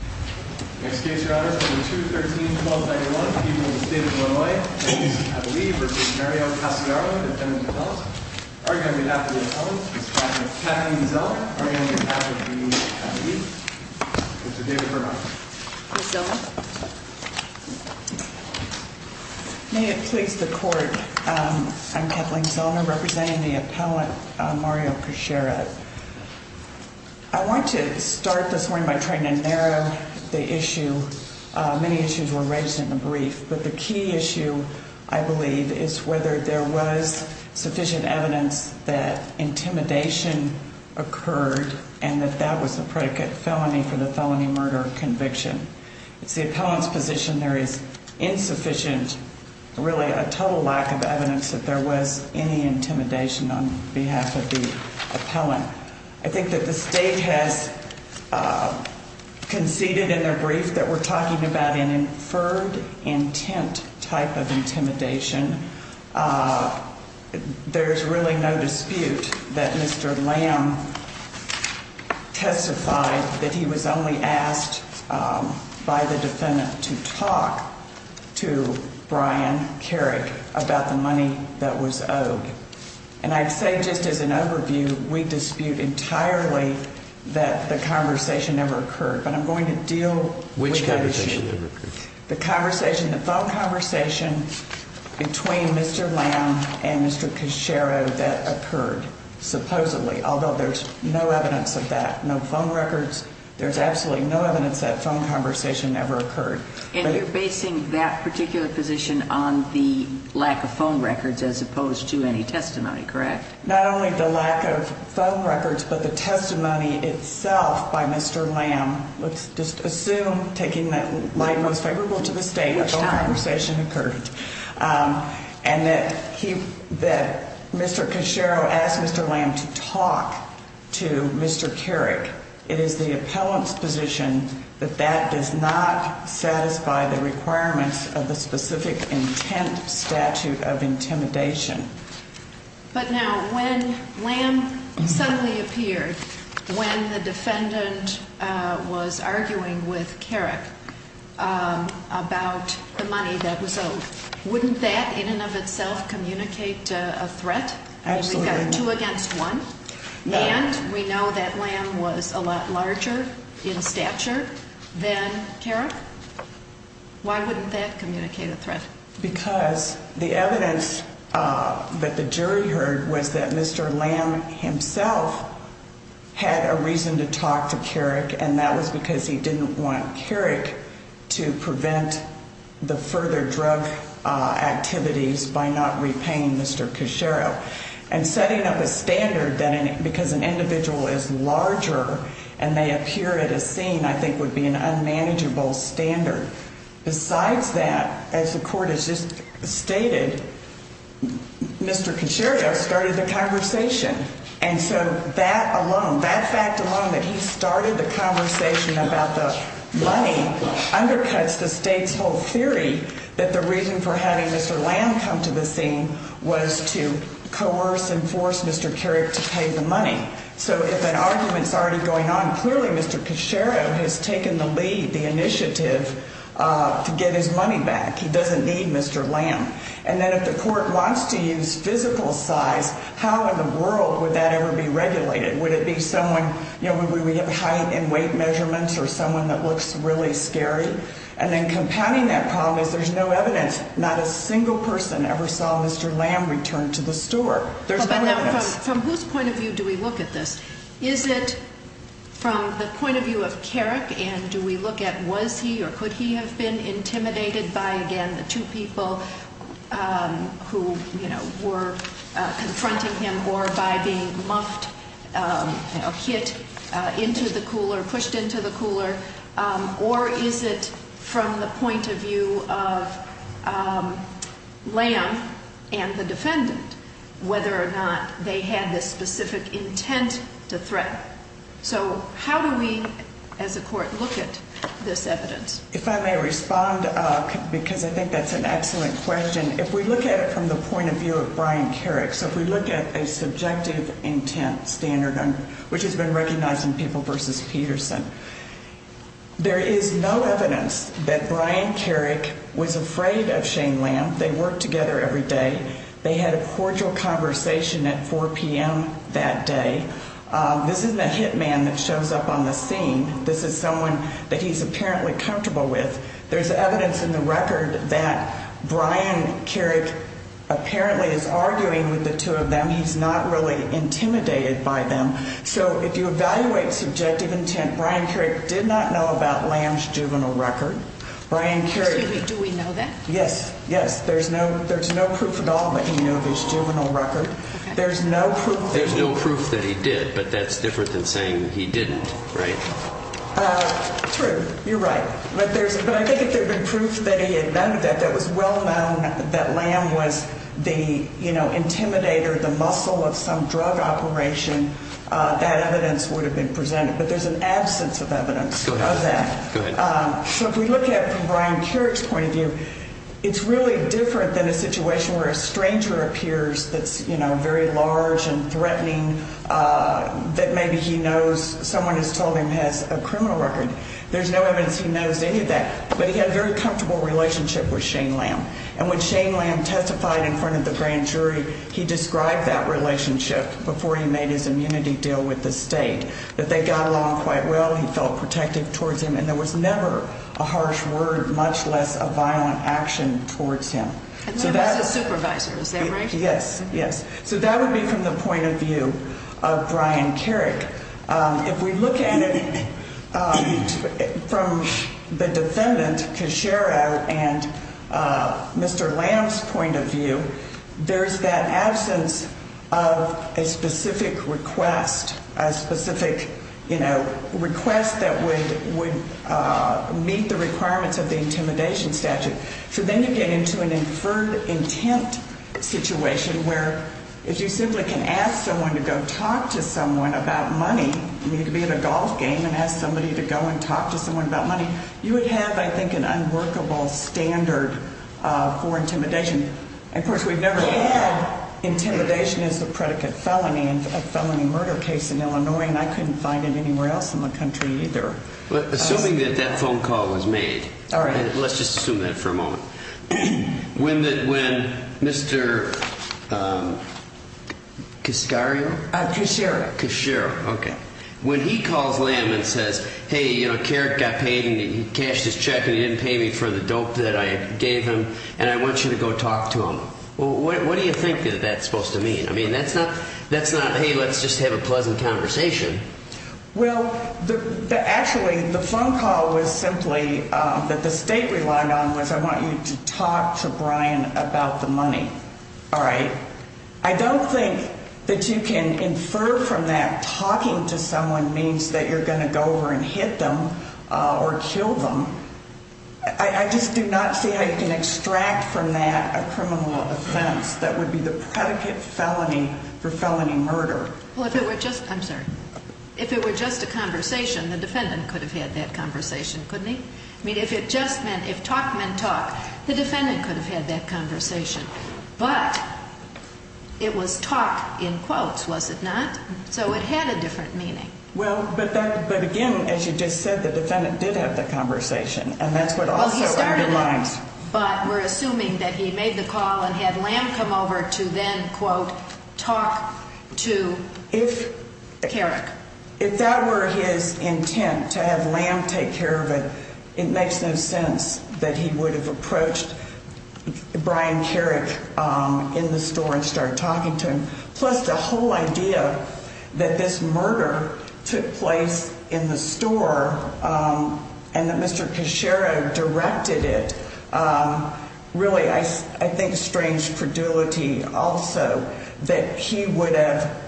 2-13-1291, People of the State of Illinois, Kevin Zellner v. Mario Casciaro, Defendant Appellant. Arguing on behalf of the Appellant, Ms. Kathleen Zellner, arguing on behalf of the Appealtees, Mr. David Bernhardt. Ms. Zellner. May it please the Court, I'm Kathleen Zellner, representing the Appellant, Mario Casciaro. I want to start this morning by trying to the issue, many issues were raised in the brief, but the key issue, I believe, is whether there was sufficient evidence that intimidation occurred and that that was a predicate felony for the felony murder conviction. It's the Appellant's position there is insufficient, really a total lack of evidence that there was any intimidation on behalf of the Appellant. I think that the State has conceded in their brief that we're talking about an inferred intent type of intimidation. There's really no dispute that Mr. Lamb testified that he was only asked by the Defendant to talk to Brian Carrick about the money that was owed. And I'd say just as an overview, we dispute entirely that the conversation never occurred. But I'm going to deal with that issue. Which conversation never occurred? The conversation, the phone conversation between Mr. Lamb and Mr. Casciaro that occurred, supposedly, although there's no evidence of that, no phone records, there's absolutely no evidence that phone conversation ever occurred. And you're basing that particular position on the lack of phone records as opposed to any testimony, correct? Not only the lack of phone records, but the testimony itself by Mr. Lamb. Let's just assume, taking my most favorable to the State, that phone conversation occurred. And that Mr. Casciaro asked Mr. Lamb to talk to Mr. Carrick. It is the Appellant's position that that does not satisfy the requirements of the specific intent statute of intimidation. But now, when Lamb suddenly appeared, when the defendant was arguing with Carrick about the money that was owed, wouldn't that, in and of itself, communicate a threat? Absolutely. We've got two against one. And we know that Lamb was a lot larger in stature than Carrick. Why wouldn't that communicate a threat? Because the evidence that the jury heard was that Mr. Lamb himself had a reason to talk to Carrick. And that was because he didn't want Carrick to prevent the further drug activities by not repaying Mr. Casciaro. And setting up a standard, because an individual is larger and may appear at a scene, I think would be an unmanageable standard. Besides that, as the court has just stated, Mr. Casciaro started the conversation. And so that alone, that fact alone, that he started the conversation about the money undercuts the state's whole theory that the reason for having Mr. Lamb come to the scene was to coerce and force Mr. Carrick to pay the money. So if an argument's already going on, clearly Mr. Casciaro has taken the lead, the initiative to get his money back. He doesn't need Mr. Lamb. And then if the court wants to use physical size, how in the world would that ever be regulated? Would it be someone, you know, would we have height and weight measurements or someone that looks really scary? And then compounding that problem is there's no evidence, not a single person ever saw Mr. Lamb return to the store. There's no evidence. From whose point of view do we look at this? Is it from the point of view of Carrick and do we look at was he or could he have been intimidated by, again, the two people who, you know, were confronting him or by being muffed, hit into the cooler, pushed into the cooler? Or is it from the point of view of Lamb and the defendant, whether or not they had this specific intent to threaten? So how do we as a court look at this evidence? If I may respond, because I think that's an excellent question. If we look at it from the point of view of Brian Carrick, so if we look at a subjective intent standard which has been recognized in People v. Peterson, there is no evidence that Brian Carrick was afraid of Shane Lamb. They worked together every day. They had a cordial conversation at 4 p.m. that day. This isn't a hit man that shows up on the scene. This is someone that he's apparently comfortable with. There's evidence in the record that Brian Carrick apparently is arguing with the two of them. He's not really intimidated by them. So if you evaluate subjective intent, Brian Carrick did not know about Lamb's juvenile record. Brian Carrick... Excuse me, do we know that? Yes, yes. There's no proof at all that he knew of his juvenile record. There's no proof... That he did, but that's different than saying he didn't, right? True, you're right. But I think if there had been proof that he had known of that, that it was well-known that Lamb was the, you know, intimidator, the muscle of some drug operation, that evidence would have been presented. But there's an absence of evidence of that. Go ahead. So if we look at it from Brian Carrick's point of view, it's really different than a situation where a stranger appears that's, you know, very large and threatening that maybe he knows someone has told him has a criminal record. There's no evidence he knows any of that. But he had a very comfortable relationship with Shane Lamb. And when Shane Lamb testified in front of the grand jury, he described that relationship before he made his immunity deal with the state, that they got along quite well, he felt protected towards him, and there was never a harsh word, much less a violent action towards him. And Lamb was his supervisor, is that right? Yes, yes. So that would be from the point of view of Brian Carrick. If we look at it from the defendant, Keshara, and Mr. Lamb's point of view, there's that absence of a specific request, a specific, you know, request that would meet the requirements of the intimidation statute. So then you get into an inferred intent situation, where if you simply can ask someone to go talk to someone about money, you could be at a golf game and ask somebody to go and talk to someone about money, you would have, I think, an unworkable standard for intimidation. Of course, we've never had intimidation as the predicate felony in a felony murder case in Illinois, and I couldn't find it anywhere else in the country either. let's just assume that for a moment. When Mr. Keshara, when he calls Lamb and says, hey, you know, Carrick got paid and he cashed his check and he didn't pay me for the dope that I gave him, and I want you to go talk to him, what do you think that that's supposed to mean? I mean, that's not, hey, let's just have a pleasant conversation. Well, actually, the phone call was simply that the state relied on was I want you to talk to Brian about the money. All right. I don't think that you can infer from that talking to someone means that you're going to go over and hit them or kill them. I just do not see how you can extract from that a criminal offense that would be the predicate felony for felony murder. Well, if it were just, I'm sorry, if it were just a conversation, the defendant could have had that conversation, couldn't he? I mean, if it just meant, if talk meant talk, the defendant could have had that conversation. But it was talk in quotes, was it not? So it had a different meaning. Well, but again, as you just said, the defendant did have the conversation and that's what also underlines. But we're assuming that he made the call and had Lamb come over to then, quote, talk to Carrick. If that were his intent to have Lamb take care of it, it makes no sense that he would have approached Brian Carrick in the store and started talking to him. Plus the whole idea that this murder took place in the store and that Mr. Cachero directed it, really I think a strange credulity also that he would have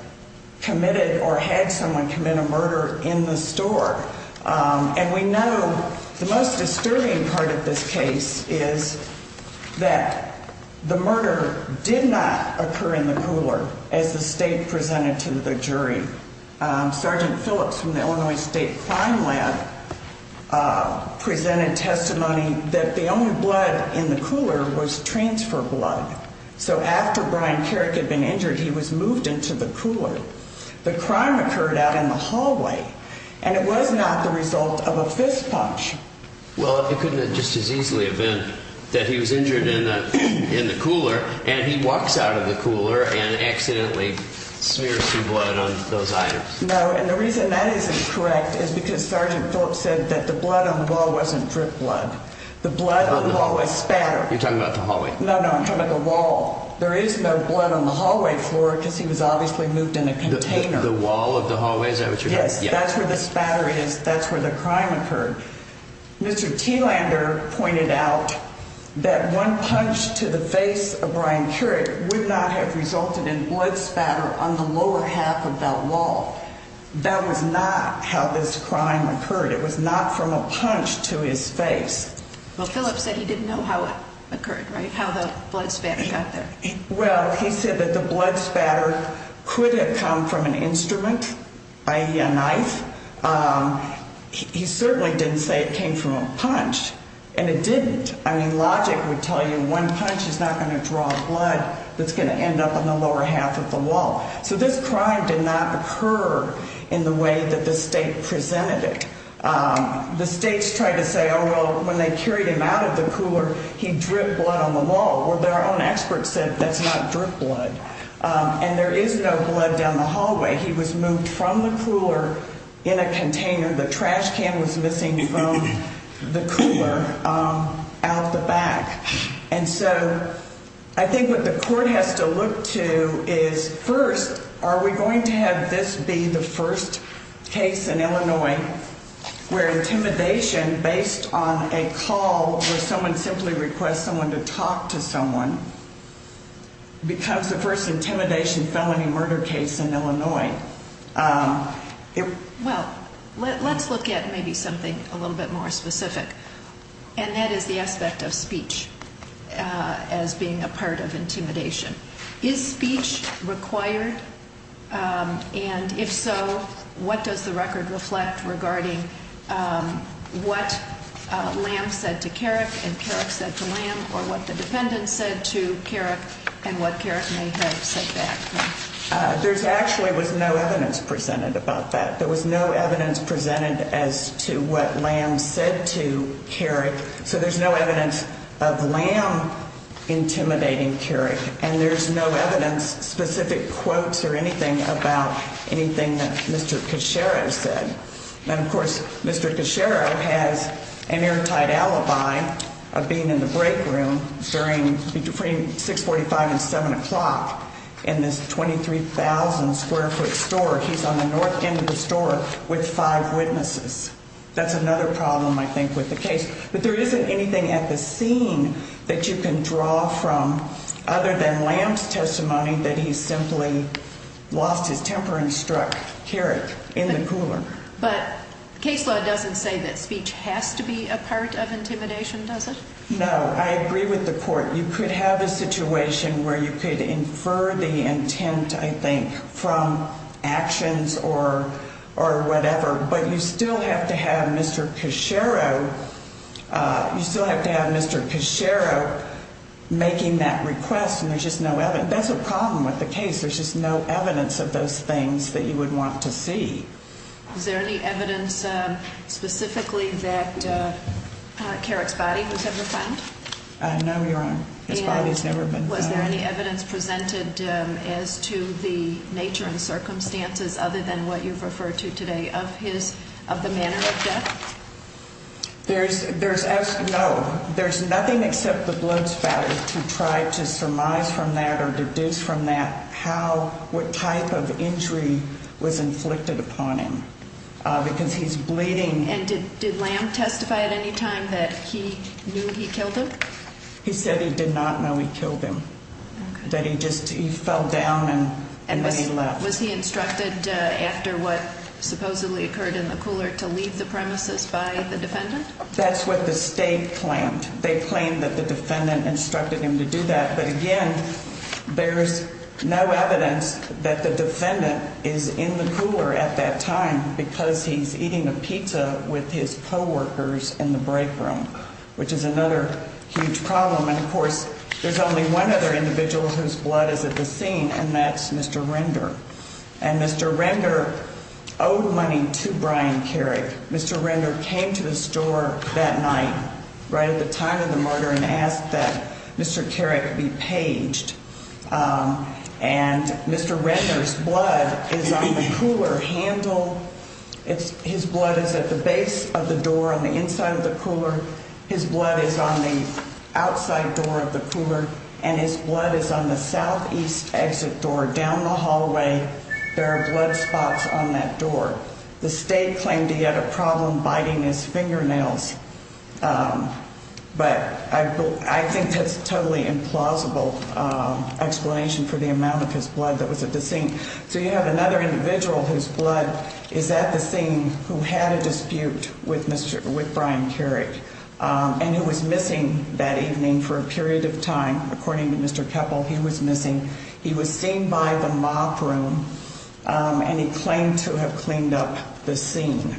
committed or had someone commit a murder in the store. And we know the most disturbing part of this case is that the murder did not occur in the cooler as the state presented to the jury. Sergeant Phillips from the Illinois State Crime Lab presented testimony that the only blood in the cooler was transfer blood. So after Brian Carrick had been injured, he was moved into the cooler. The crime occurred out in the hallway and it was not the result of a fist punch. Well, it couldn't have just as easily have been that he was injured in the cooler and he walks out of the cooler and accidentally smears some blood on those items. No, and the reason that isn't correct is because Sergeant Phillips said that the blood on the wall wasn't drip blood. The blood on the wall was spatter. No, no, I'm talking about the wall. There is no blood on the hallway floor because he was obviously moved in a container. The wall of the hallway? Is that what you're talking about? Yes, that's where the spatter is. That's where the crime occurred. Mr. Thielander pointed out that one punch to the face of Brian Carrick would not have resulted in blood spatter on the lower half of that wall. That was not how this crime occurred. It was not from a punch to his face. Well, Phillips said he didn't know how it occurred, right? How the blood spatter got there. Well, he said that the blood spatter could have come from an instrument, i.e. a knife. He certainly didn't say it came from a punch, and it didn't. I mean, logic would tell you one punch is not going to draw blood that's going to end up on the lower half of the wall. So this crime did not occur in the way that the state presented it. The states tried to say, oh, well, when they carried him out of the cooler, he dripped blood on the wall. Well, their own experts said that's not drip blood. And there is no blood down the hallway. He was moved from the cooler in a container. The trash can was missing from the cooler out the back. And so I think what the court has to look to is, first, are we going to have this be the first case in Illinois where intimidation based on a call where someone simply requests someone to talk to someone becomes the first intimidation felony murder case in Illinois? Well, let's look at maybe something a little bit more specific, and that is the aspect of speech as being a part of intimidation. Is speech required? And if so, what does the record reflect regarding what Lamb said to Carrick and Carrick said to Lamb, or what the defendant said to Carrick and what Carrick may have said back? There actually was no evidence presented about that. There was no evidence presented as to what Lamb said to Carrick, so there's no evidence of Lamb intimidating Carrick, and there's no evidence, specific quotes or anything, about anything that Mr. Cacero said. And, of course, Mr. Cacero has an airtight alibi of being in the break room between 645 and 7 o'clock in this 23,000 square foot store. He's on the north end of the store with five witnesses. That's another problem, I think, with the case. But there isn't anything at the scene that you can draw from other than Lamb's testimony that he simply lost his temper and struck Carrick in the cooler. But case law doesn't say that speech has to be a part of intimidation, does it? No. I agree with the court. You could have a situation where you could infer the intent, I think, from actions or whatever, but you still have to have Mr. Cacero... You still have to have Mr. Cacero making that request, and there's just no evidence. That's a problem with the case. There's just no evidence of those things that you would want to see. Is there any evidence specifically that Carrick's body was ever found? No, Your Honor. His body has never been found. And was there any evidence presented as to the nature and circumstances, other than what you've referred to today, of the manner of death? No. There's nothing except the blood spatter to try to surmise from that or deduce from that what type of injury was inflicted upon him, because he's bleeding... And did Lamb testify at any time that he knew he killed him? He said he did not know he killed him, that he just fell down and then he left. And was he instructed, after what supposedly occurred in the cooler, to leave the premises by the defendant? That's what the state planned. They claimed that the defendant instructed him to do that. But again, there's no evidence that the defendant is in the cooler at that time because he's eating a pizza with his co-workers in the break room, which is another huge problem. And of course, there's only one other individual whose blood is at the scene, and that's Mr. Render. And Mr. Render owed money to Brian Carrick. Mr. Render came to the store that night, right at the time of the murder, and asked that Mr. Carrick be paged. And Mr. Render's blood is on the cooler handle. His blood is at the base of the door on the inside of the cooler. His blood is on the outside door of the cooler. And his blood is on the southeast exit door, down the hallway. There are blood spots on that door. The state claimed he had a problem biting his fingernails. But I think that's a totally implausible explanation for the amount of his blood that was at the scene. So you have another individual whose blood is at the scene who had a dispute with Brian Carrick and who was missing that evening for a period of time. According to Mr. Keppel, he was missing. He was seen by the mob room, and he claimed to have cleaned up the scene.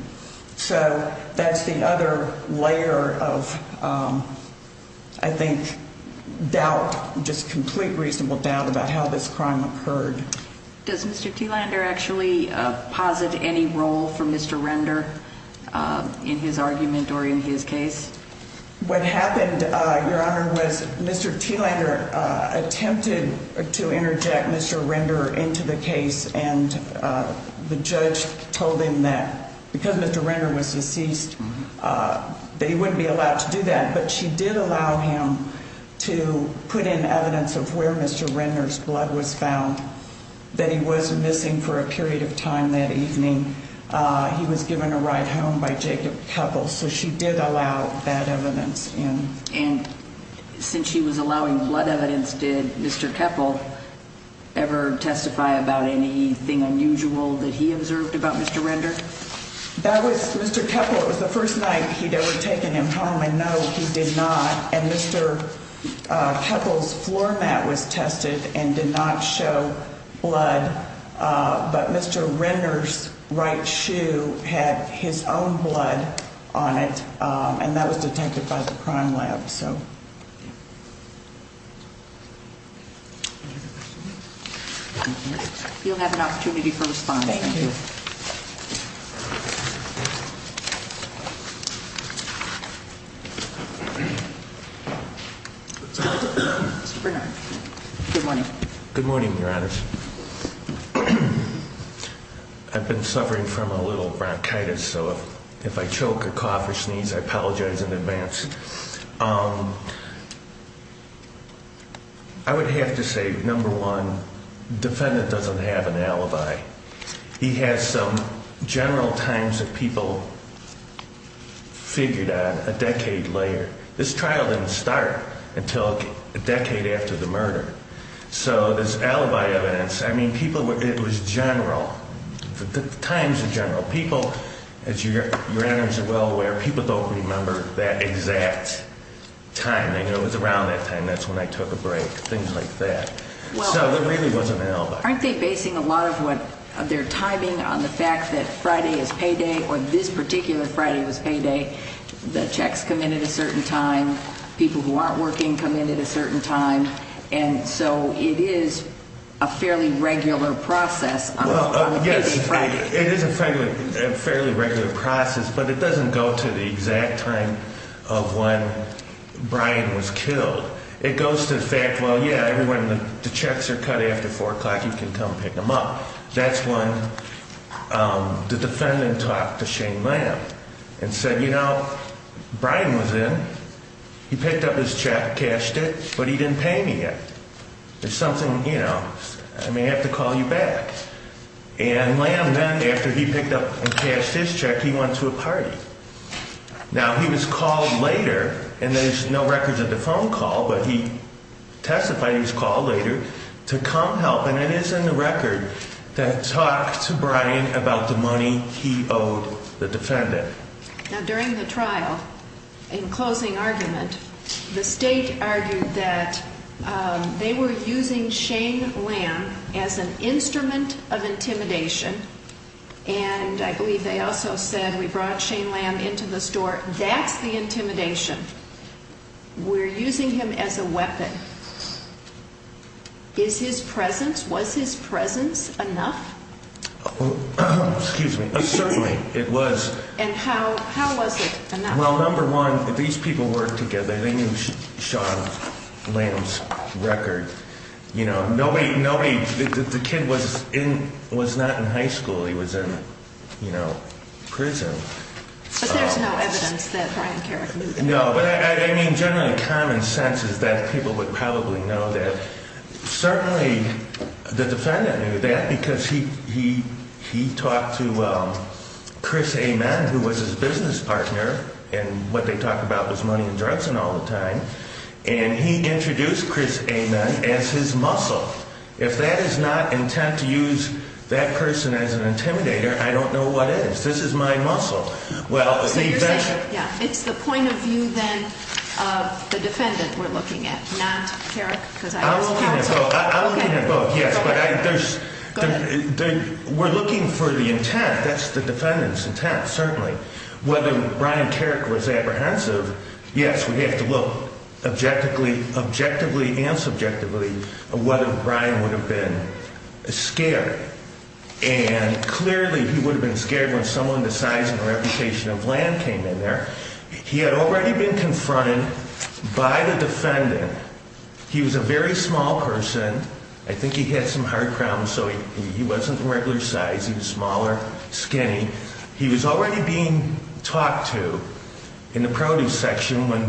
So that's the other layer of, I think, doubt, just complete reasonable doubt about how this crime occurred. Was Mr. T. Langer in his argument or in his case? What happened, Your Honor, was Mr. T. Langer attempted to interject Mr. Render into the case, and the judge told him that because Mr. Render was deceased that he wouldn't be allowed to do that. But she did allow him to put in evidence of where Mr. Render's blood was found, that he was missing for a period of time that evening. He was given a ride home by Jacob Keppel, so she did allow that evidence in. And since she was allowing blood evidence, did Mr. Keppel ever testify about anything unusual that he observed about Mr. Render? That was, Mr. Keppel, it was the first night he'd ever taken him home, and no, he did not. And Mr. Keppel's floor mat was tested and did not show blood, but Mr. Render's right shoe had his own blood on it, and that was detected by the crime lab, so... You'll have an opportunity for responding. Thank you. Mr. Bernard, good morning. Good morning, Your Honor. I've been suffering from a little bronchitis, so if I choke, cough, or sneeze, I apologize in advance. I would have to say, number one, the defendant doesn't have an alibi. He has some... He has some... general times that people figured out a decade later. This trial didn't start until a decade after the murder, so this alibi evidence, I mean, people... It was general, the times are general. People, as Your Honor's well aware, people don't remember that exact time. They know it was around that time, that's when I took a break, things like that. So it really wasn't an alibi. Aren't they basing a lot of their timing on the fact that Friday is payday, or this particular Friday was payday, the checks come in at a certain time, people who aren't working come in at a certain time, and so it is a fairly regular process on a payday Friday. Yes, it is a fairly regular process, but it doesn't go to the exact time of when Brian was killed. It goes to the fact, well, yeah, when the checks are cut after 4 o'clock, you can come pick them up. Well, that's when the defendant talked to Shane Lamb and said, you know, Brian was in, he picked up his check, cashed it, but he didn't pay me yet. There's something, you know, I may have to call you back. And Lamb then, after he picked up and cashed his check, he went to a party. Now, he was called later, and there's no records of the phone call, but he testified he was called later to come help, and it is in the record that talks to Brian about the money he owed the defendant. Now, during the trial, in closing argument, the State argued that they were using Shane Lamb as an instrument of intimidation, and I believe they also said, we brought Shane Lamb into the store. That's the intimidation. We're using him as a weapon. Is his presence, was his presence enough? Excuse me. Certainly, it was. And how was it enough? Well, number one, these people worked together. They knew Shane Lamb's record. You know, nobody, the kid was not in high school. He was in, you know, prison. But there's no evidence that Brian Carrick moved him. No, but I mean, generally common sense is that people would probably know that. Certainly, the defendant knew that because he talked to Chris Amen, who was his business partner, and what they talked about was money and drugs and all the time, and he introduced Chris Amen as his muscle. If that is not intent to use that person as an intimidator, I don't know what is. This is my muscle. So you're saying, yeah, it's the point of view, then, of the defendant we're looking at, not Carrick? I'm looking at both, yes. Go ahead. We're looking for the intent. That's the defendant's intent, certainly. Whether Brian Carrick was apprehensive, yes, we have to look objectively and subjectively at whether Brian would have been scared. And clearly, he would have been scared when someone the size and reputation of Lamb came in there. He had already been confronted by the defendant. He was a very small person. I think he had some heart problems, so he wasn't the regular size. He was smaller, skinny. He was already being talked to in the produce section when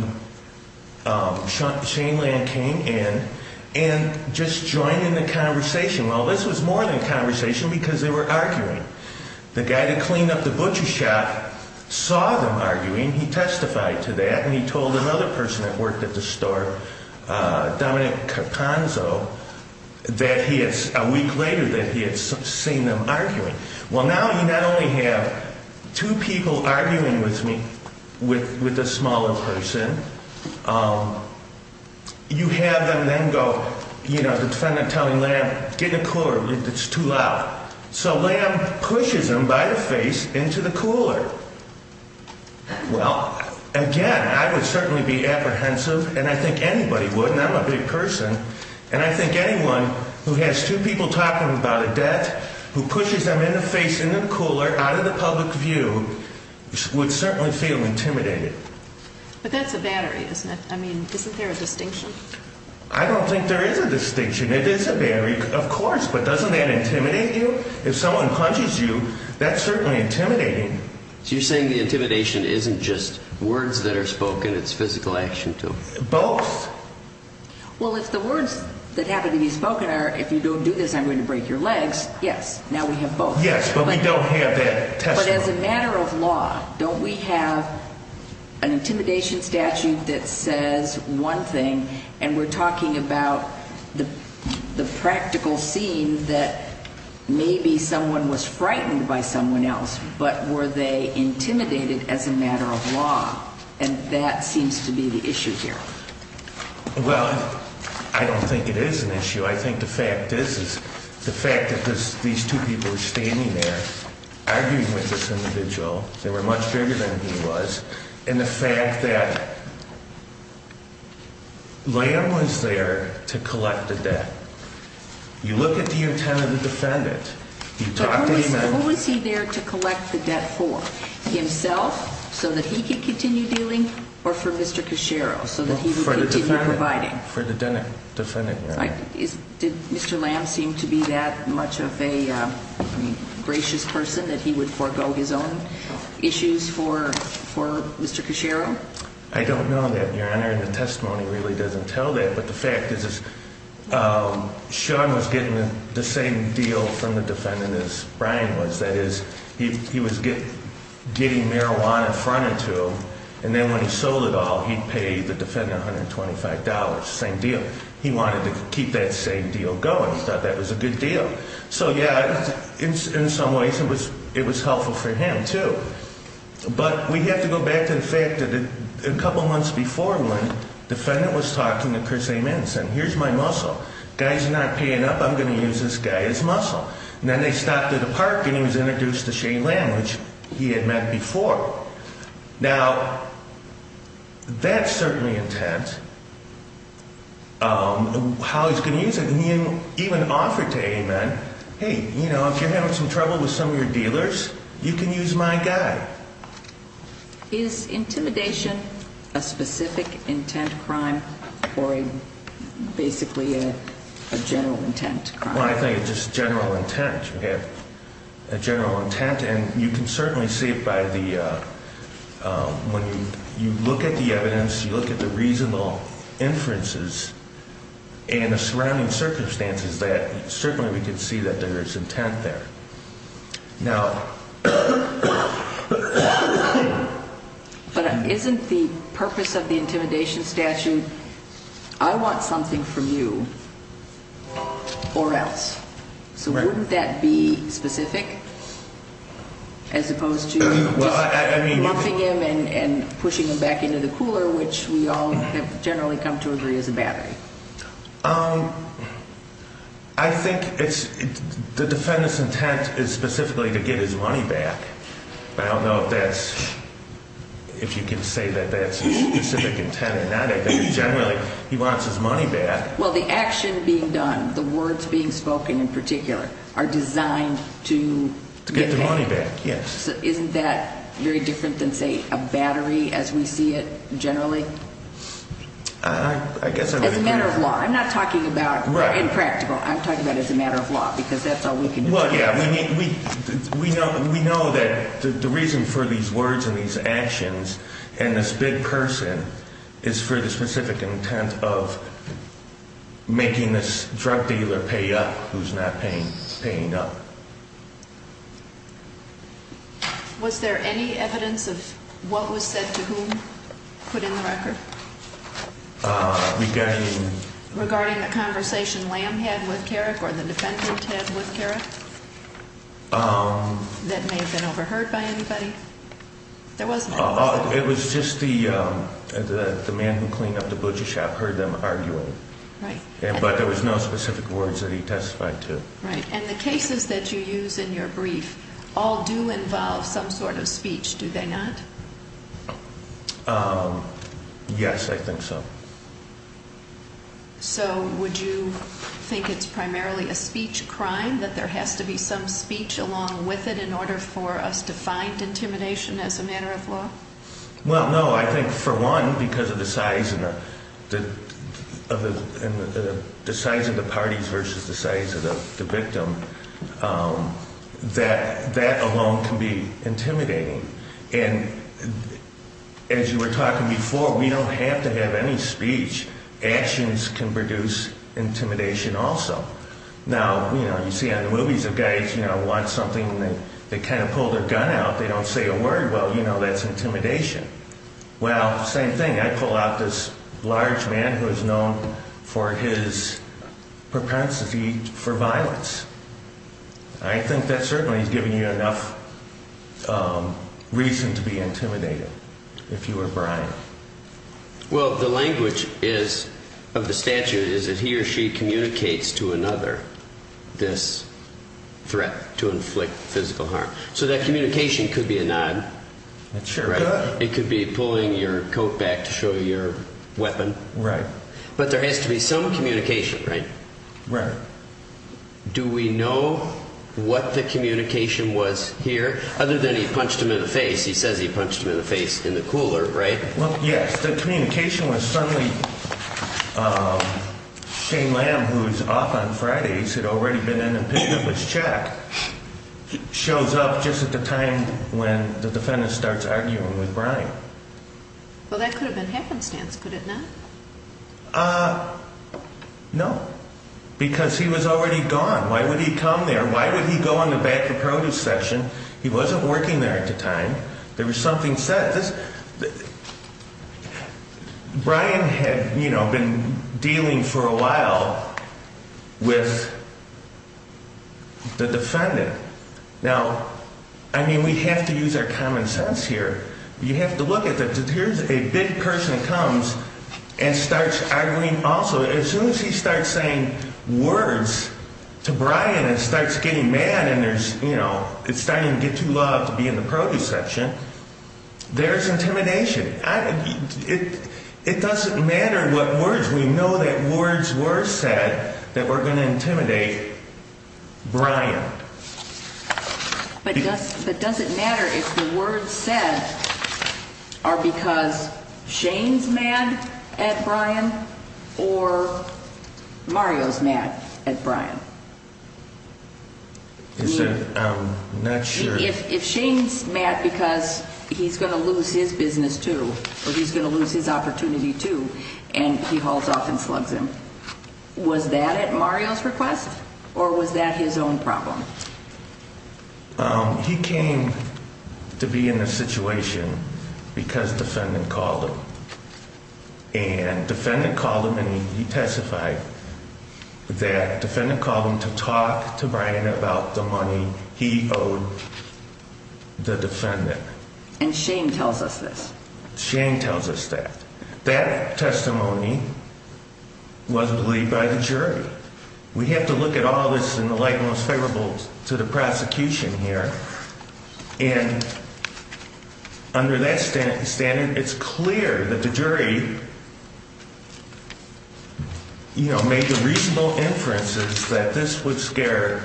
Shane Lamb came in and just joined in the conversation. Well, this was more than a conversation because they were arguing. The guy that cleaned up the butcher shop saw them arguing. He testified to that, and he told another person that worked at the store, Dominic Carpanzo, that he had, a week later, that he had seen them arguing. Well, now you not only have two people arguing with me with a smaller person, you have them then go, you know, the defendant telling Lamb, get in the cooler, it's too loud. So Lamb pushes him by the face into the cooler. Well, again, I would certainly be apprehensive, and I think anybody would, and I'm a big person, and I think anyone who has two people talking about a death, who pushes them in the face in the cooler, out of the public view, would certainly feel intimidated. But that's a battery, isn't it? I mean, isn't there a distinction? I don't think there is a distinction. It is a battery, of course, but doesn't that intimidate you? If someone punches you, that's certainly intimidating. So you're saying the intimidation isn't just words that are spoken, it's physical action, too? Both. Well, if the words that happen to be spoken are, if you don't do this, I'm going to break your legs, yes, now we have both. Yes, but we don't have that testimony. But as a matter of law, don't we have an intimidation statute that says one thing, and we're talking about the practical scene that maybe someone was frightened by someone else, but were they intimidated as a matter of law? And that seems to be the issue here. Well, I don't think it is an issue. I think the fact is, the fact that these two people are standing there arguing with this individual, they were much bigger than he was, and the fact that Lamb was there to collect the debt. You look at the intended defendant. Who was he there to collect the debt for? Himself, so that he could continue dealing, or for Mr. Cachero, so that he would continue providing? For the defendant. Did Mr. Lamb seem to be that much of a gracious person that he would forego his own issues for Mr. Cachero? I don't know that, Your Honor, and the testimony really doesn't tell that. But the fact is, Sean was getting the same deal from the defendant as Brian was. That is, he was getting marijuana in front of him, and then when he sold it all, he paid the defendant $125, same deal. He wanted to keep that same deal going. He thought that was a good deal. So, yeah, in some ways it was helpful for him, too. But we have to go back to the fact that a couple of months before, when the defendant was talking to Chris Ammons, and here's my muscle. The guy's not paying up. I'm going to use this guy as muscle. And then they stopped at a park, and he was introduced to Shane Lamb, which he had met before. Now, that's certainly intent. How he's going to use it. And he even offered to Ammon, hey, you know, if you're having some trouble with some of your dealers, you can use my guy. Is intimidation a specific intent crime or basically a general intent crime? Well, I think it's just general intent. You have a general intent, and you can certainly see it when you look at the evidence, you look at the reasonable inferences, and the surrounding circumstances, that certainly we can see that there is intent there. Now. But isn't the purpose of the intimidation statute, I want something from you or else? So wouldn't that be specific as opposed to just lumping him and pushing him back into the cooler, which we all have generally come to agree is a battery? I think the defendant's intent is specifically to get his money back. I don't know if you can say that that's his specific intent or not. I think generally he wants his money back. Well, the action being done, the words being spoken in particular, are designed to get the money back. Yes. So isn't that very different than, say, a battery as we see it generally? I guess I would agree. As a matter of law. I'm not talking about impractical. I'm talking about as a matter of law because that's all we can do. Well, yeah. We know that the reason for these words and these actions and this big person is for the specific intent of making this drug dealer pay up who's not paying up. Was there any evidence of what was said to whom put in the record? Regarding? Regarding the conversation Lamb had with Carrick or the defendant had with Carrick? That may have been overheard by anybody? There was none. It was just the man who cleaned up the butcher shop heard them arguing. Right. But there was no specific words that he testified to. Right. And the cases that you use in your brief all do involve some sort of speech, do they not? Yes, I think so. So would you think it's primarily a speech crime, that there has to be some speech along with it in order for us to find intimidation as a matter of law? Well, no. I think, for one, because of the size of the parties versus the size of the victim, that alone can be intimidating. And as you were talking before, we don't have to have any speech. Actions can produce intimidation also. Now, you know, you see on the movies the guys, you know, want something and they kind of pull their gun out. They don't say a word. Well, you know, that's intimidation. Well, same thing. I pull out this large man who is known for his propensity for violence. I think that certainly has given you enough reason to be intimidated, if you were Brian. Well, the language of the statute is that he or she communicates to another this threat to inflict physical harm. So that communication could be a nod. Sure. It could be pulling your coat back to show your weapon. Right. But there has to be some communication, right? Right. Do we know what the communication was here? Other than he punched him in the face, he says he punched him in the face in the cooler, right? Well, yes. The communication was certainly Shane Lamb, who is off on Fridays, had already been in and picked up his check, shows up just at the time when the defendant starts arguing with Brian. Well, that could have been happenstance, could it not? No, because he was already gone. Why would he come there? Why would he go in the back of produce section? He wasn't working there at the time. There was something set. Brian had, you know, been dealing for a while with the defendant. Now, I mean, we have to use our common sense here. You have to look at that. Here's a big person that comes and starts arguing also. As soon as he starts saying words to Brian and starts getting mad and there's, you know, it's starting to get too loud to be in the produce section, there's intimidation. It doesn't matter what words. We know that words were said that were going to intimidate Brian. But does it matter if the words said are because Shane's mad at Brian or Mario's mad at Brian? I'm not sure. If Shane's mad because he's going to lose his business, too, or he's going to lose his opportunity, too, and he hauls off and slugs him, was that at Mario's request or was that his own problem? He came to be in this situation because defendant called him. And defendant called him and he testified that defendant called him to talk to Brian about the money he owed the defendant. And Shane tells us this. Shane tells us that. That testimony was believed by the jury. We have to look at all this in the light most favorable to the prosecution here. And under that standard, it's clear that the jury, you know, made the reasonable inferences that this would scare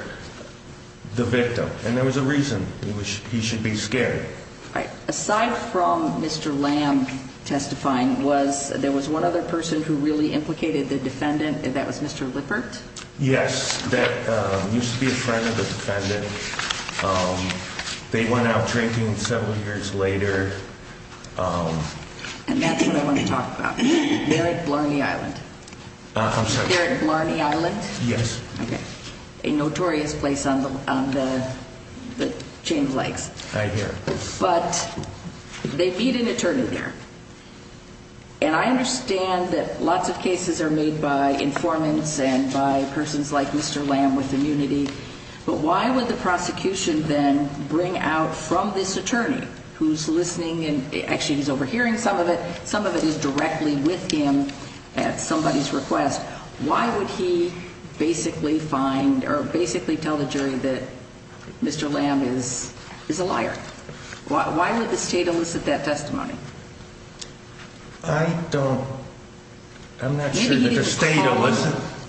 the victim. And there was a reason he should be scared. Aside from Mr. Lamb testifying, was there was one other person who really implicated the defendant? That was Mr. Lippert? Yes. That used to be a friend of the defendant. They went out drinking several years later. And that's what I want to talk about. They're at Blarney Island. I'm sorry. They're at Blarney Island? Yes. Okay. A notorious place on the chain of legs. I hear. But they beat an attorney there. And I understand that lots of cases are made by informants and by persons like Mr. Lamb with immunity. But why would the prosecution then bring out from this attorney, who's listening and actually he's overhearing some of it, some of it is directly with him at somebody's request, why would he basically find or basically tell the jury that Mr. Lamb is a liar? Why would the state elicit that testimony? I don't. I'm not sure that the state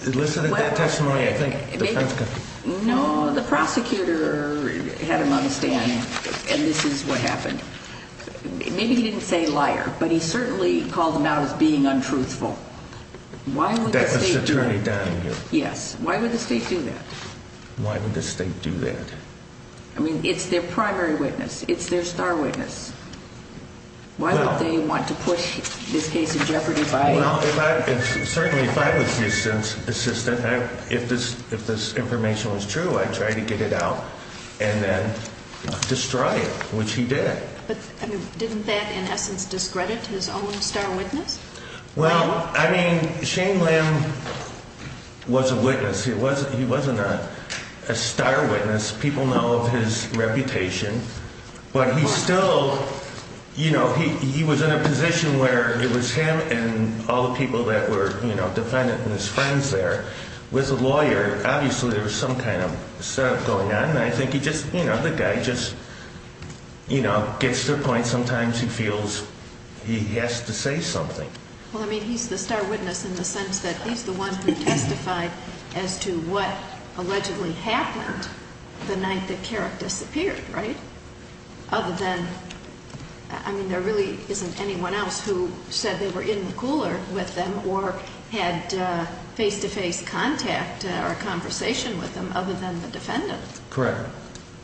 elicited that testimony, I think. No, the prosecutor had him on the stand, and this is what happened. Maybe he didn't say liar, but he certainly called him out as being untruthful. Why would the state do that? That was Attorney Donahue. Yes. Why would the state do that? Why would the state do that? I mean, it's their primary witness. It's their star witness. Why would they want to push this case in jeopardy by it? Well, certainly if I was the assistant, if this information was true, I'd try to get it out and then destroy it, which he did. But didn't that in essence discredit his own star witness? Well, I mean, Shane Lamb was a witness. He wasn't a star witness. People know of his reputation. But he still, you know, he was in a position where it was him and all the people that were, you know, defendant and his friends there. With the lawyer, obviously there was some kind of setup going on, and I think he just, you know, the guy just, you know, gets to the point sometimes he feels he has to say something. Well, I mean, he's the star witness in the sense that he's the one who testified as to what allegedly happened the night that Carrick disappeared, right? Other than, I mean, there really isn't anyone else who said they were in the cooler with them or had face-to-face contact or conversation with them other than the defendant. Correct. Any other questions?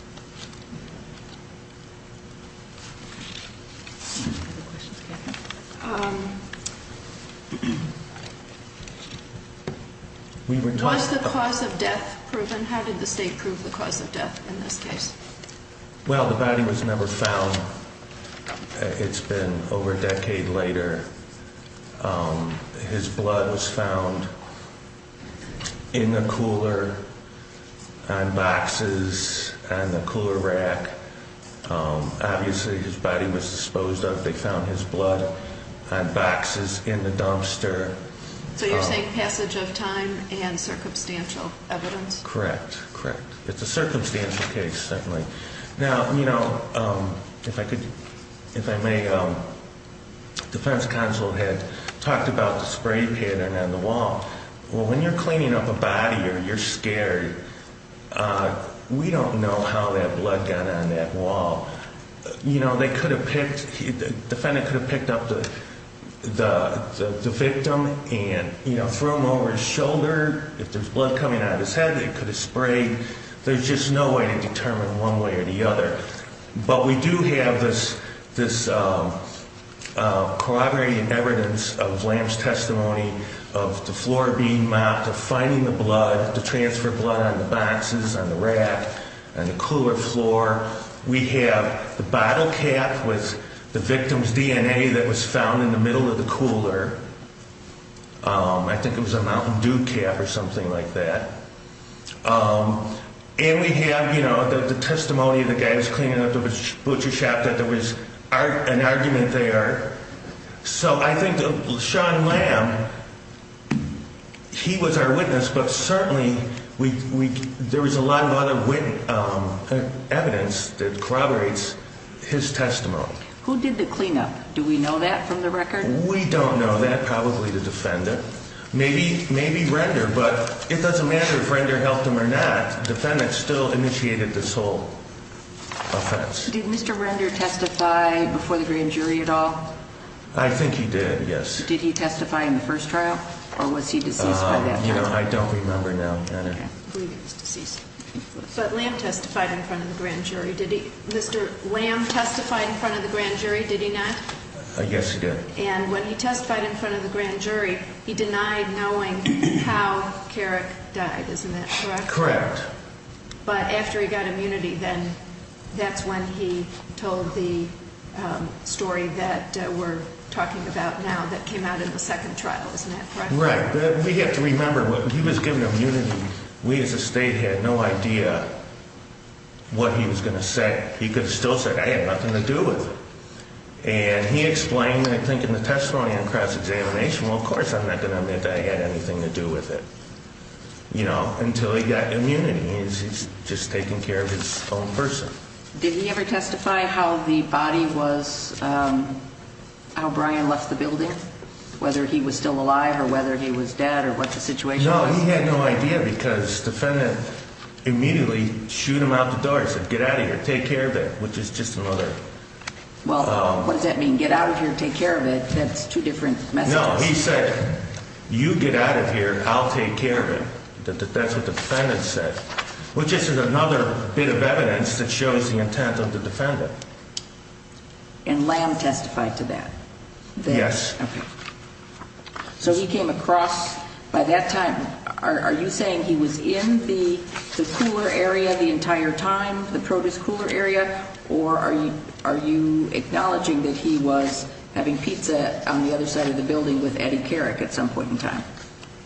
Was the cause of death proven? How did the state prove the cause of death in this case? Well, the body was never found. It's been over a decade later. His blood was found in the cooler on boxes on the cooler rack. Obviously his body was disposed of. They found his blood on boxes in the dumpster. So you're saying passage of time and circumstantial evidence? Correct, correct. It's a circumstantial case, certainly. Now, you know, if I could, if I may, the defense counsel had talked about the spray pattern on the wall. Well, when you're cleaning up a body or you're scared, we don't know how that blood got on that wall. You know, they could have picked, the defendant could have picked up the victim and, you know, threw him over his shoulder. If there's blood coming out of his head, they could have sprayed. There's just no way to determine one way or the other. But we do have this corroborating evidence of Lamb's testimony of the floor being mopped, of finding the blood, the transfer blood on the boxes, on the rack, on the cooler floor. We have the bottle cap with the victim's DNA that was found in the middle of the cooler. I think it was a Mountain Dew cap or something like that. And we have, you know, the testimony of the guy who's cleaning up the butcher shop, that there was an argument there. So I think Sean Lamb, he was our witness, but certainly there was a lot of other evidence that corroborates his testimony. Who did the cleanup? Do we know that from the record? We don't know that, probably the defendant. Maybe Render, but it doesn't matter if Render helped him or not. The defendant still initiated this whole offense. Did Mr. Render testify before the grand jury at all? I think he did, yes. Did he testify in the first trial, or was he deceased by that time? I don't remember now. I believe he was deceased. But Lamb testified in front of the grand jury, did he? Mr. Lamb testified in front of the grand jury, did he not? Yes, he did. And when he testified in front of the grand jury, he denied knowing how Carrick died, isn't that correct? Correct. But after he got immunity, then that's when he told the story that we're talking about now that came out in the second trial, isn't that correct? Right. We have to remember, when he was given immunity, we as a state had no idea what he was going to say. He could have still said, I have nothing to do with it. And he explained, I think, in the testimony in cross-examination, well, of course I'm not going to admit that I had anything to do with it. You know, until he got immunity. He's just taking care of his own person. Did he ever testify how the body was, how Brian left the building, whether he was still alive or whether he was dead or what the situation was? No, he had no idea because the defendant immediately shooed him out the door and said, get out of here, take care of it, which is just another. Well, what does that mean, get out of here, take care of it? That's two different messages. No, he said, you get out of here, I'll take care of it. That's what the defendant said, which is just another bit of evidence that shows the intent of the defendant. And Lamb testified to that? Yes. Okay. So he came across, by that time, are you saying he was in the cooler area the entire time, the produce cooler area, or are you acknowledging that he was having pizza on the other side of the building with Eddie Carrick at some point in time?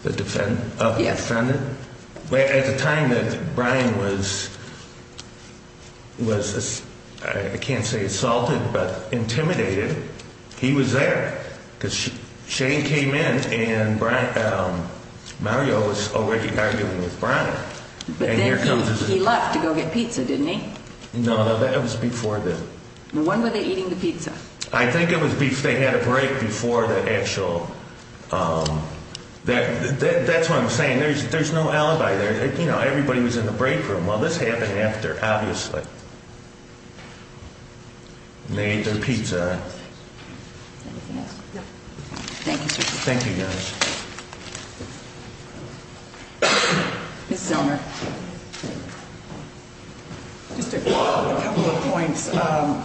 The defendant? Yes. At the time that Brian was, I can't say assaulted, but intimidated, he was there because Shane came in and Mario was already arguing with Brian. But then he left to go get pizza, didn't he? No, that was before that. When were they eating the pizza? I think they had a break before the actual, that's what I'm saying, there's no alibi there. You know, everybody was in the break room. Well, this happened after, obviously. They ate their pizza. Anything else? No. Thank you, sir. Thank you, guys. Ms. Zellner. Just a couple of points. I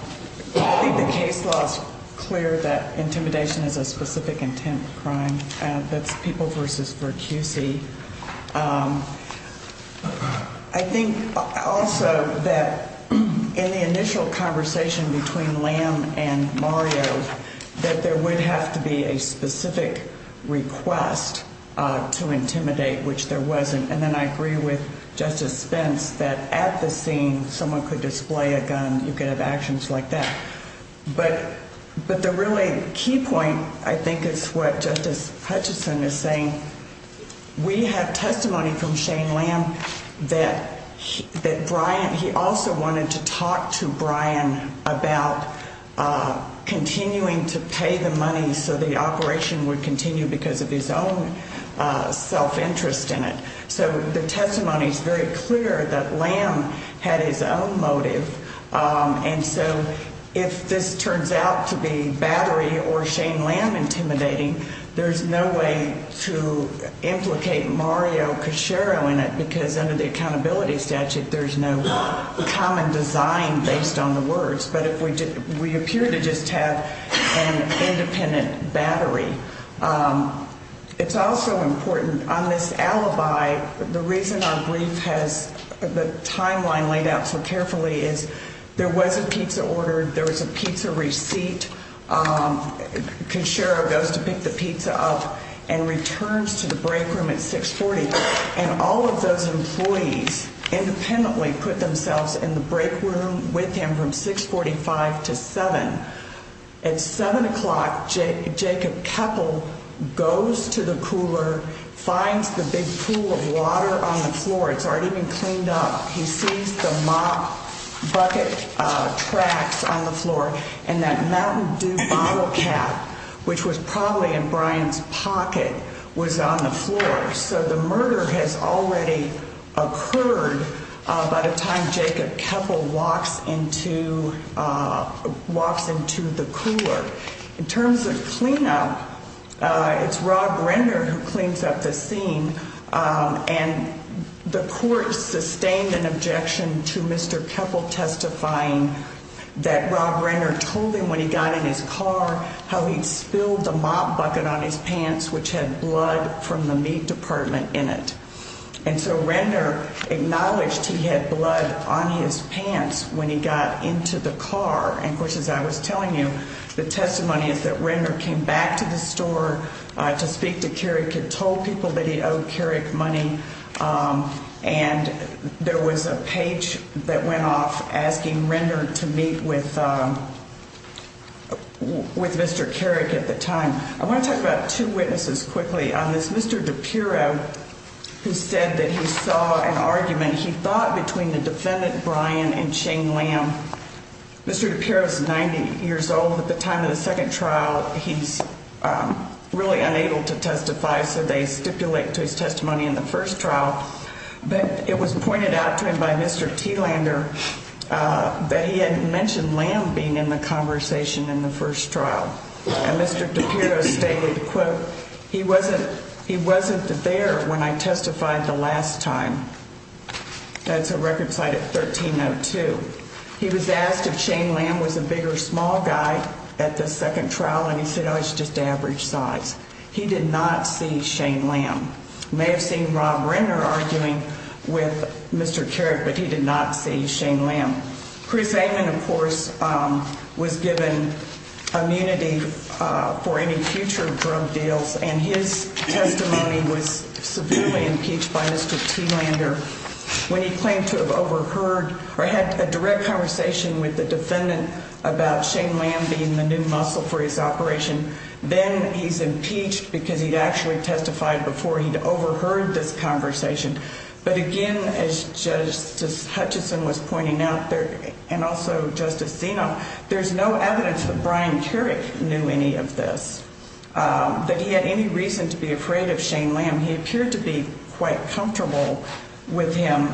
think the case law is clear that intimidation is a specific intent crime. That's people versus for QC. I think also that in the initial conversation between Liam and Mario, that there would have to be a specific request to intimidate, which there wasn't. And then I agree with Justice Spence that at the scene, someone could display a gun. You could have actions like that. But the really key point, I think, is what Justice Hutchison is saying. We have testimony from Shane Lamb that Brian, he also wanted to talk to Brian about continuing to pay the money so the operation would continue because of his own self-interest in it. So the testimony is very clear that Lamb had his own motive. And so if this turns out to be Battery or Shane Lamb intimidating, there's no way to implicate Mario Cachero in it because under the accountability statute, there's no common design based on the words. But we appear to just have an independent Battery. It's also important on this alibi, the reason our brief has the timeline laid out so carefully is there was a pizza order, there was a pizza receipt. Cachero goes to pick the pizza up and returns to the break room at 640. And all of those employees independently put themselves in the break room with him from 645 to 7. At 7 o'clock, Jacob Keppel goes to the cooler, finds the big pool of water on the floor. It's already been cleaned up. He sees the mop bucket tracks on the floor and that Mountain Dew bottle cap, which was probably in Brian's pocket, was on the floor. So the murder has already occurred by the time Jacob Keppel walks into the cooler. In terms of cleanup, it's Rob Renner who cleans up the scene. And the court sustained an objection to Mr. Keppel testifying that Rob Renner told him when he got in his car how he spilled the mop bucket on his pants, which had blood from the meat department in it. And so Renner acknowledged he had blood on his pants when he got into the car. And, of course, as I was telling you, the testimony is that Renner came back to the store to speak to Carrick and told people that he owed Carrick money. And there was a page that went off asking Renner to meet with with Mr. Carrick at the time. I want to talk about two witnesses quickly. On this, Mr. DiPiro, who said that he saw an argument, he thought, between the defendant, Brian, and Shane Lamb. Mr. DiPiro is 90 years old. At the time of the second trial, he's really unable to testify, so they stipulate to his testimony in the first trial. But it was pointed out to him by Mr. Thielander that he had mentioned Lamb being in the conversation in the first trial. And Mr. DiPiro stated, quote, he wasn't there when I testified the last time. That's a record cited 1302. He was asked if Shane Lamb was a big or small guy at the second trial, and he said, oh, it's just average size. He did not see Shane Lamb. May have seen Rob Renner arguing with Mr. Carrick, but he did not see Shane Lamb. Chris Amon, of course, was given immunity for any future drug deals, and his testimony was severely impeached by Mr. Thielander. When he claimed to have overheard or had a direct conversation with the defendant about Shane Lamb being the new muscle for his operation, then he's impeached because he'd actually testified before he'd overheard this conversation. But again, as Justice Hutchison was pointing out there, and also Justice Zeno, there's no evidence that Brian Carrick knew any of this, that he had any reason to be afraid of Shane Lamb. He appeared to be quite comfortable with him.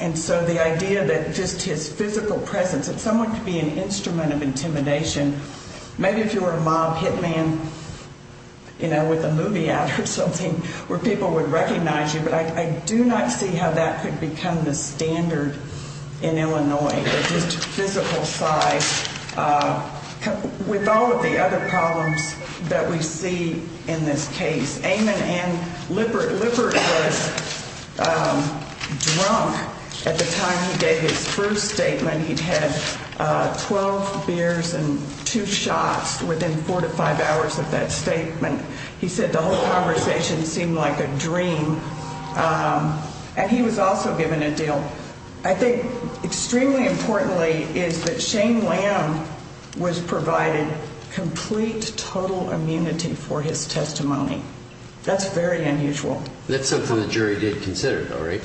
And so the idea that just his physical presence, that someone could be an instrument of intimidation, maybe if you were a mob hit man, you know, with a movie ad or something, where people would recognize you. But I do not see how that could become the standard in Illinois, just physical size. With all of the other problems that we see in this case, Amon and Lippert. Lippert was drunk at the time he gave his first statement. He'd had 12 beers and two shots within four to five hours of that statement. He said the whole conversation seemed like a dream. And he was also given a deal. I think extremely importantly is that Shane Lamb was provided complete total immunity for his testimony. That's very unusual. That's something the jury did consider, though, right?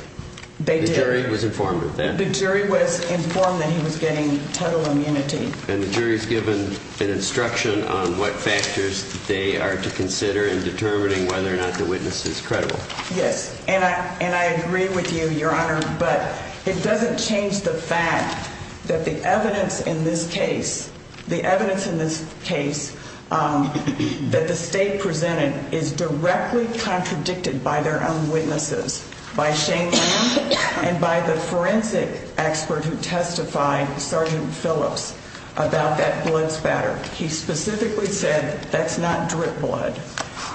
They did. The jury was informed of that. The jury was informed that he was getting total immunity. And the jury has given an instruction on what factors they are to consider in determining whether or not the witness is credible. Yes. And I agree with you, Your Honor. But it doesn't change the fact that the evidence in this case, the evidence in this case that the state presented is directly contradicted by their own witnesses, by Shane Lamb and by the forensic expert who testified, Sergeant Phillips. About that blood spatter. He specifically said that's not drip blood.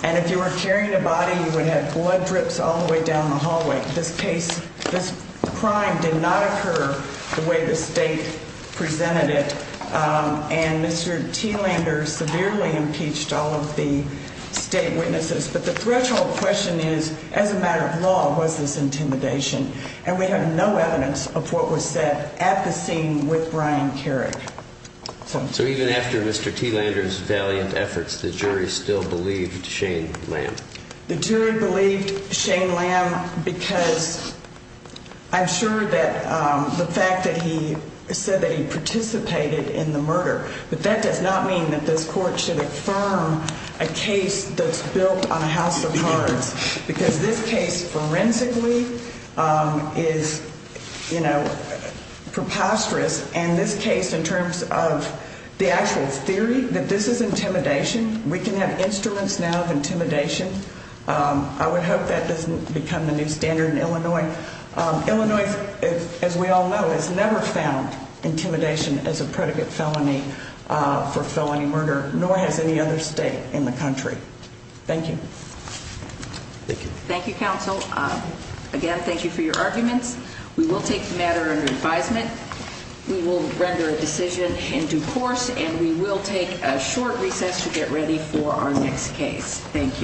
And if you were carrying a body, you would have blood drips all the way down the hallway. This case, this crime did not occur the way the state presented it. And Mr. T. Lander severely impeached all of the state witnesses. But the threshold question is, as a matter of law, was this intimidation? And we have no evidence of what was said at the scene with Brian Carrick. So even after Mr. T. Lander's valiant efforts, the jury still believed Shane Lamb. The jury believed Shane Lamb because I'm sure that the fact that he said that he participated in the murder, but that does not mean that this court should affirm a case that's built on a house of cards. Because this case, forensically, is preposterous. And this case, in terms of the actual theory that this is intimidation, we can have instruments now of intimidation. I would hope that doesn't become the new standard in Illinois. Illinois, as we all know, has never found intimidation as a predicate felony for felony murder, nor has any other state in the country. Thank you. Thank you. Thank you, counsel. Again, thank you for your arguments. We will take the matter under advisement. We will render a decision in due course, and we will take a short recess to get ready for our next case. Thank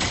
you.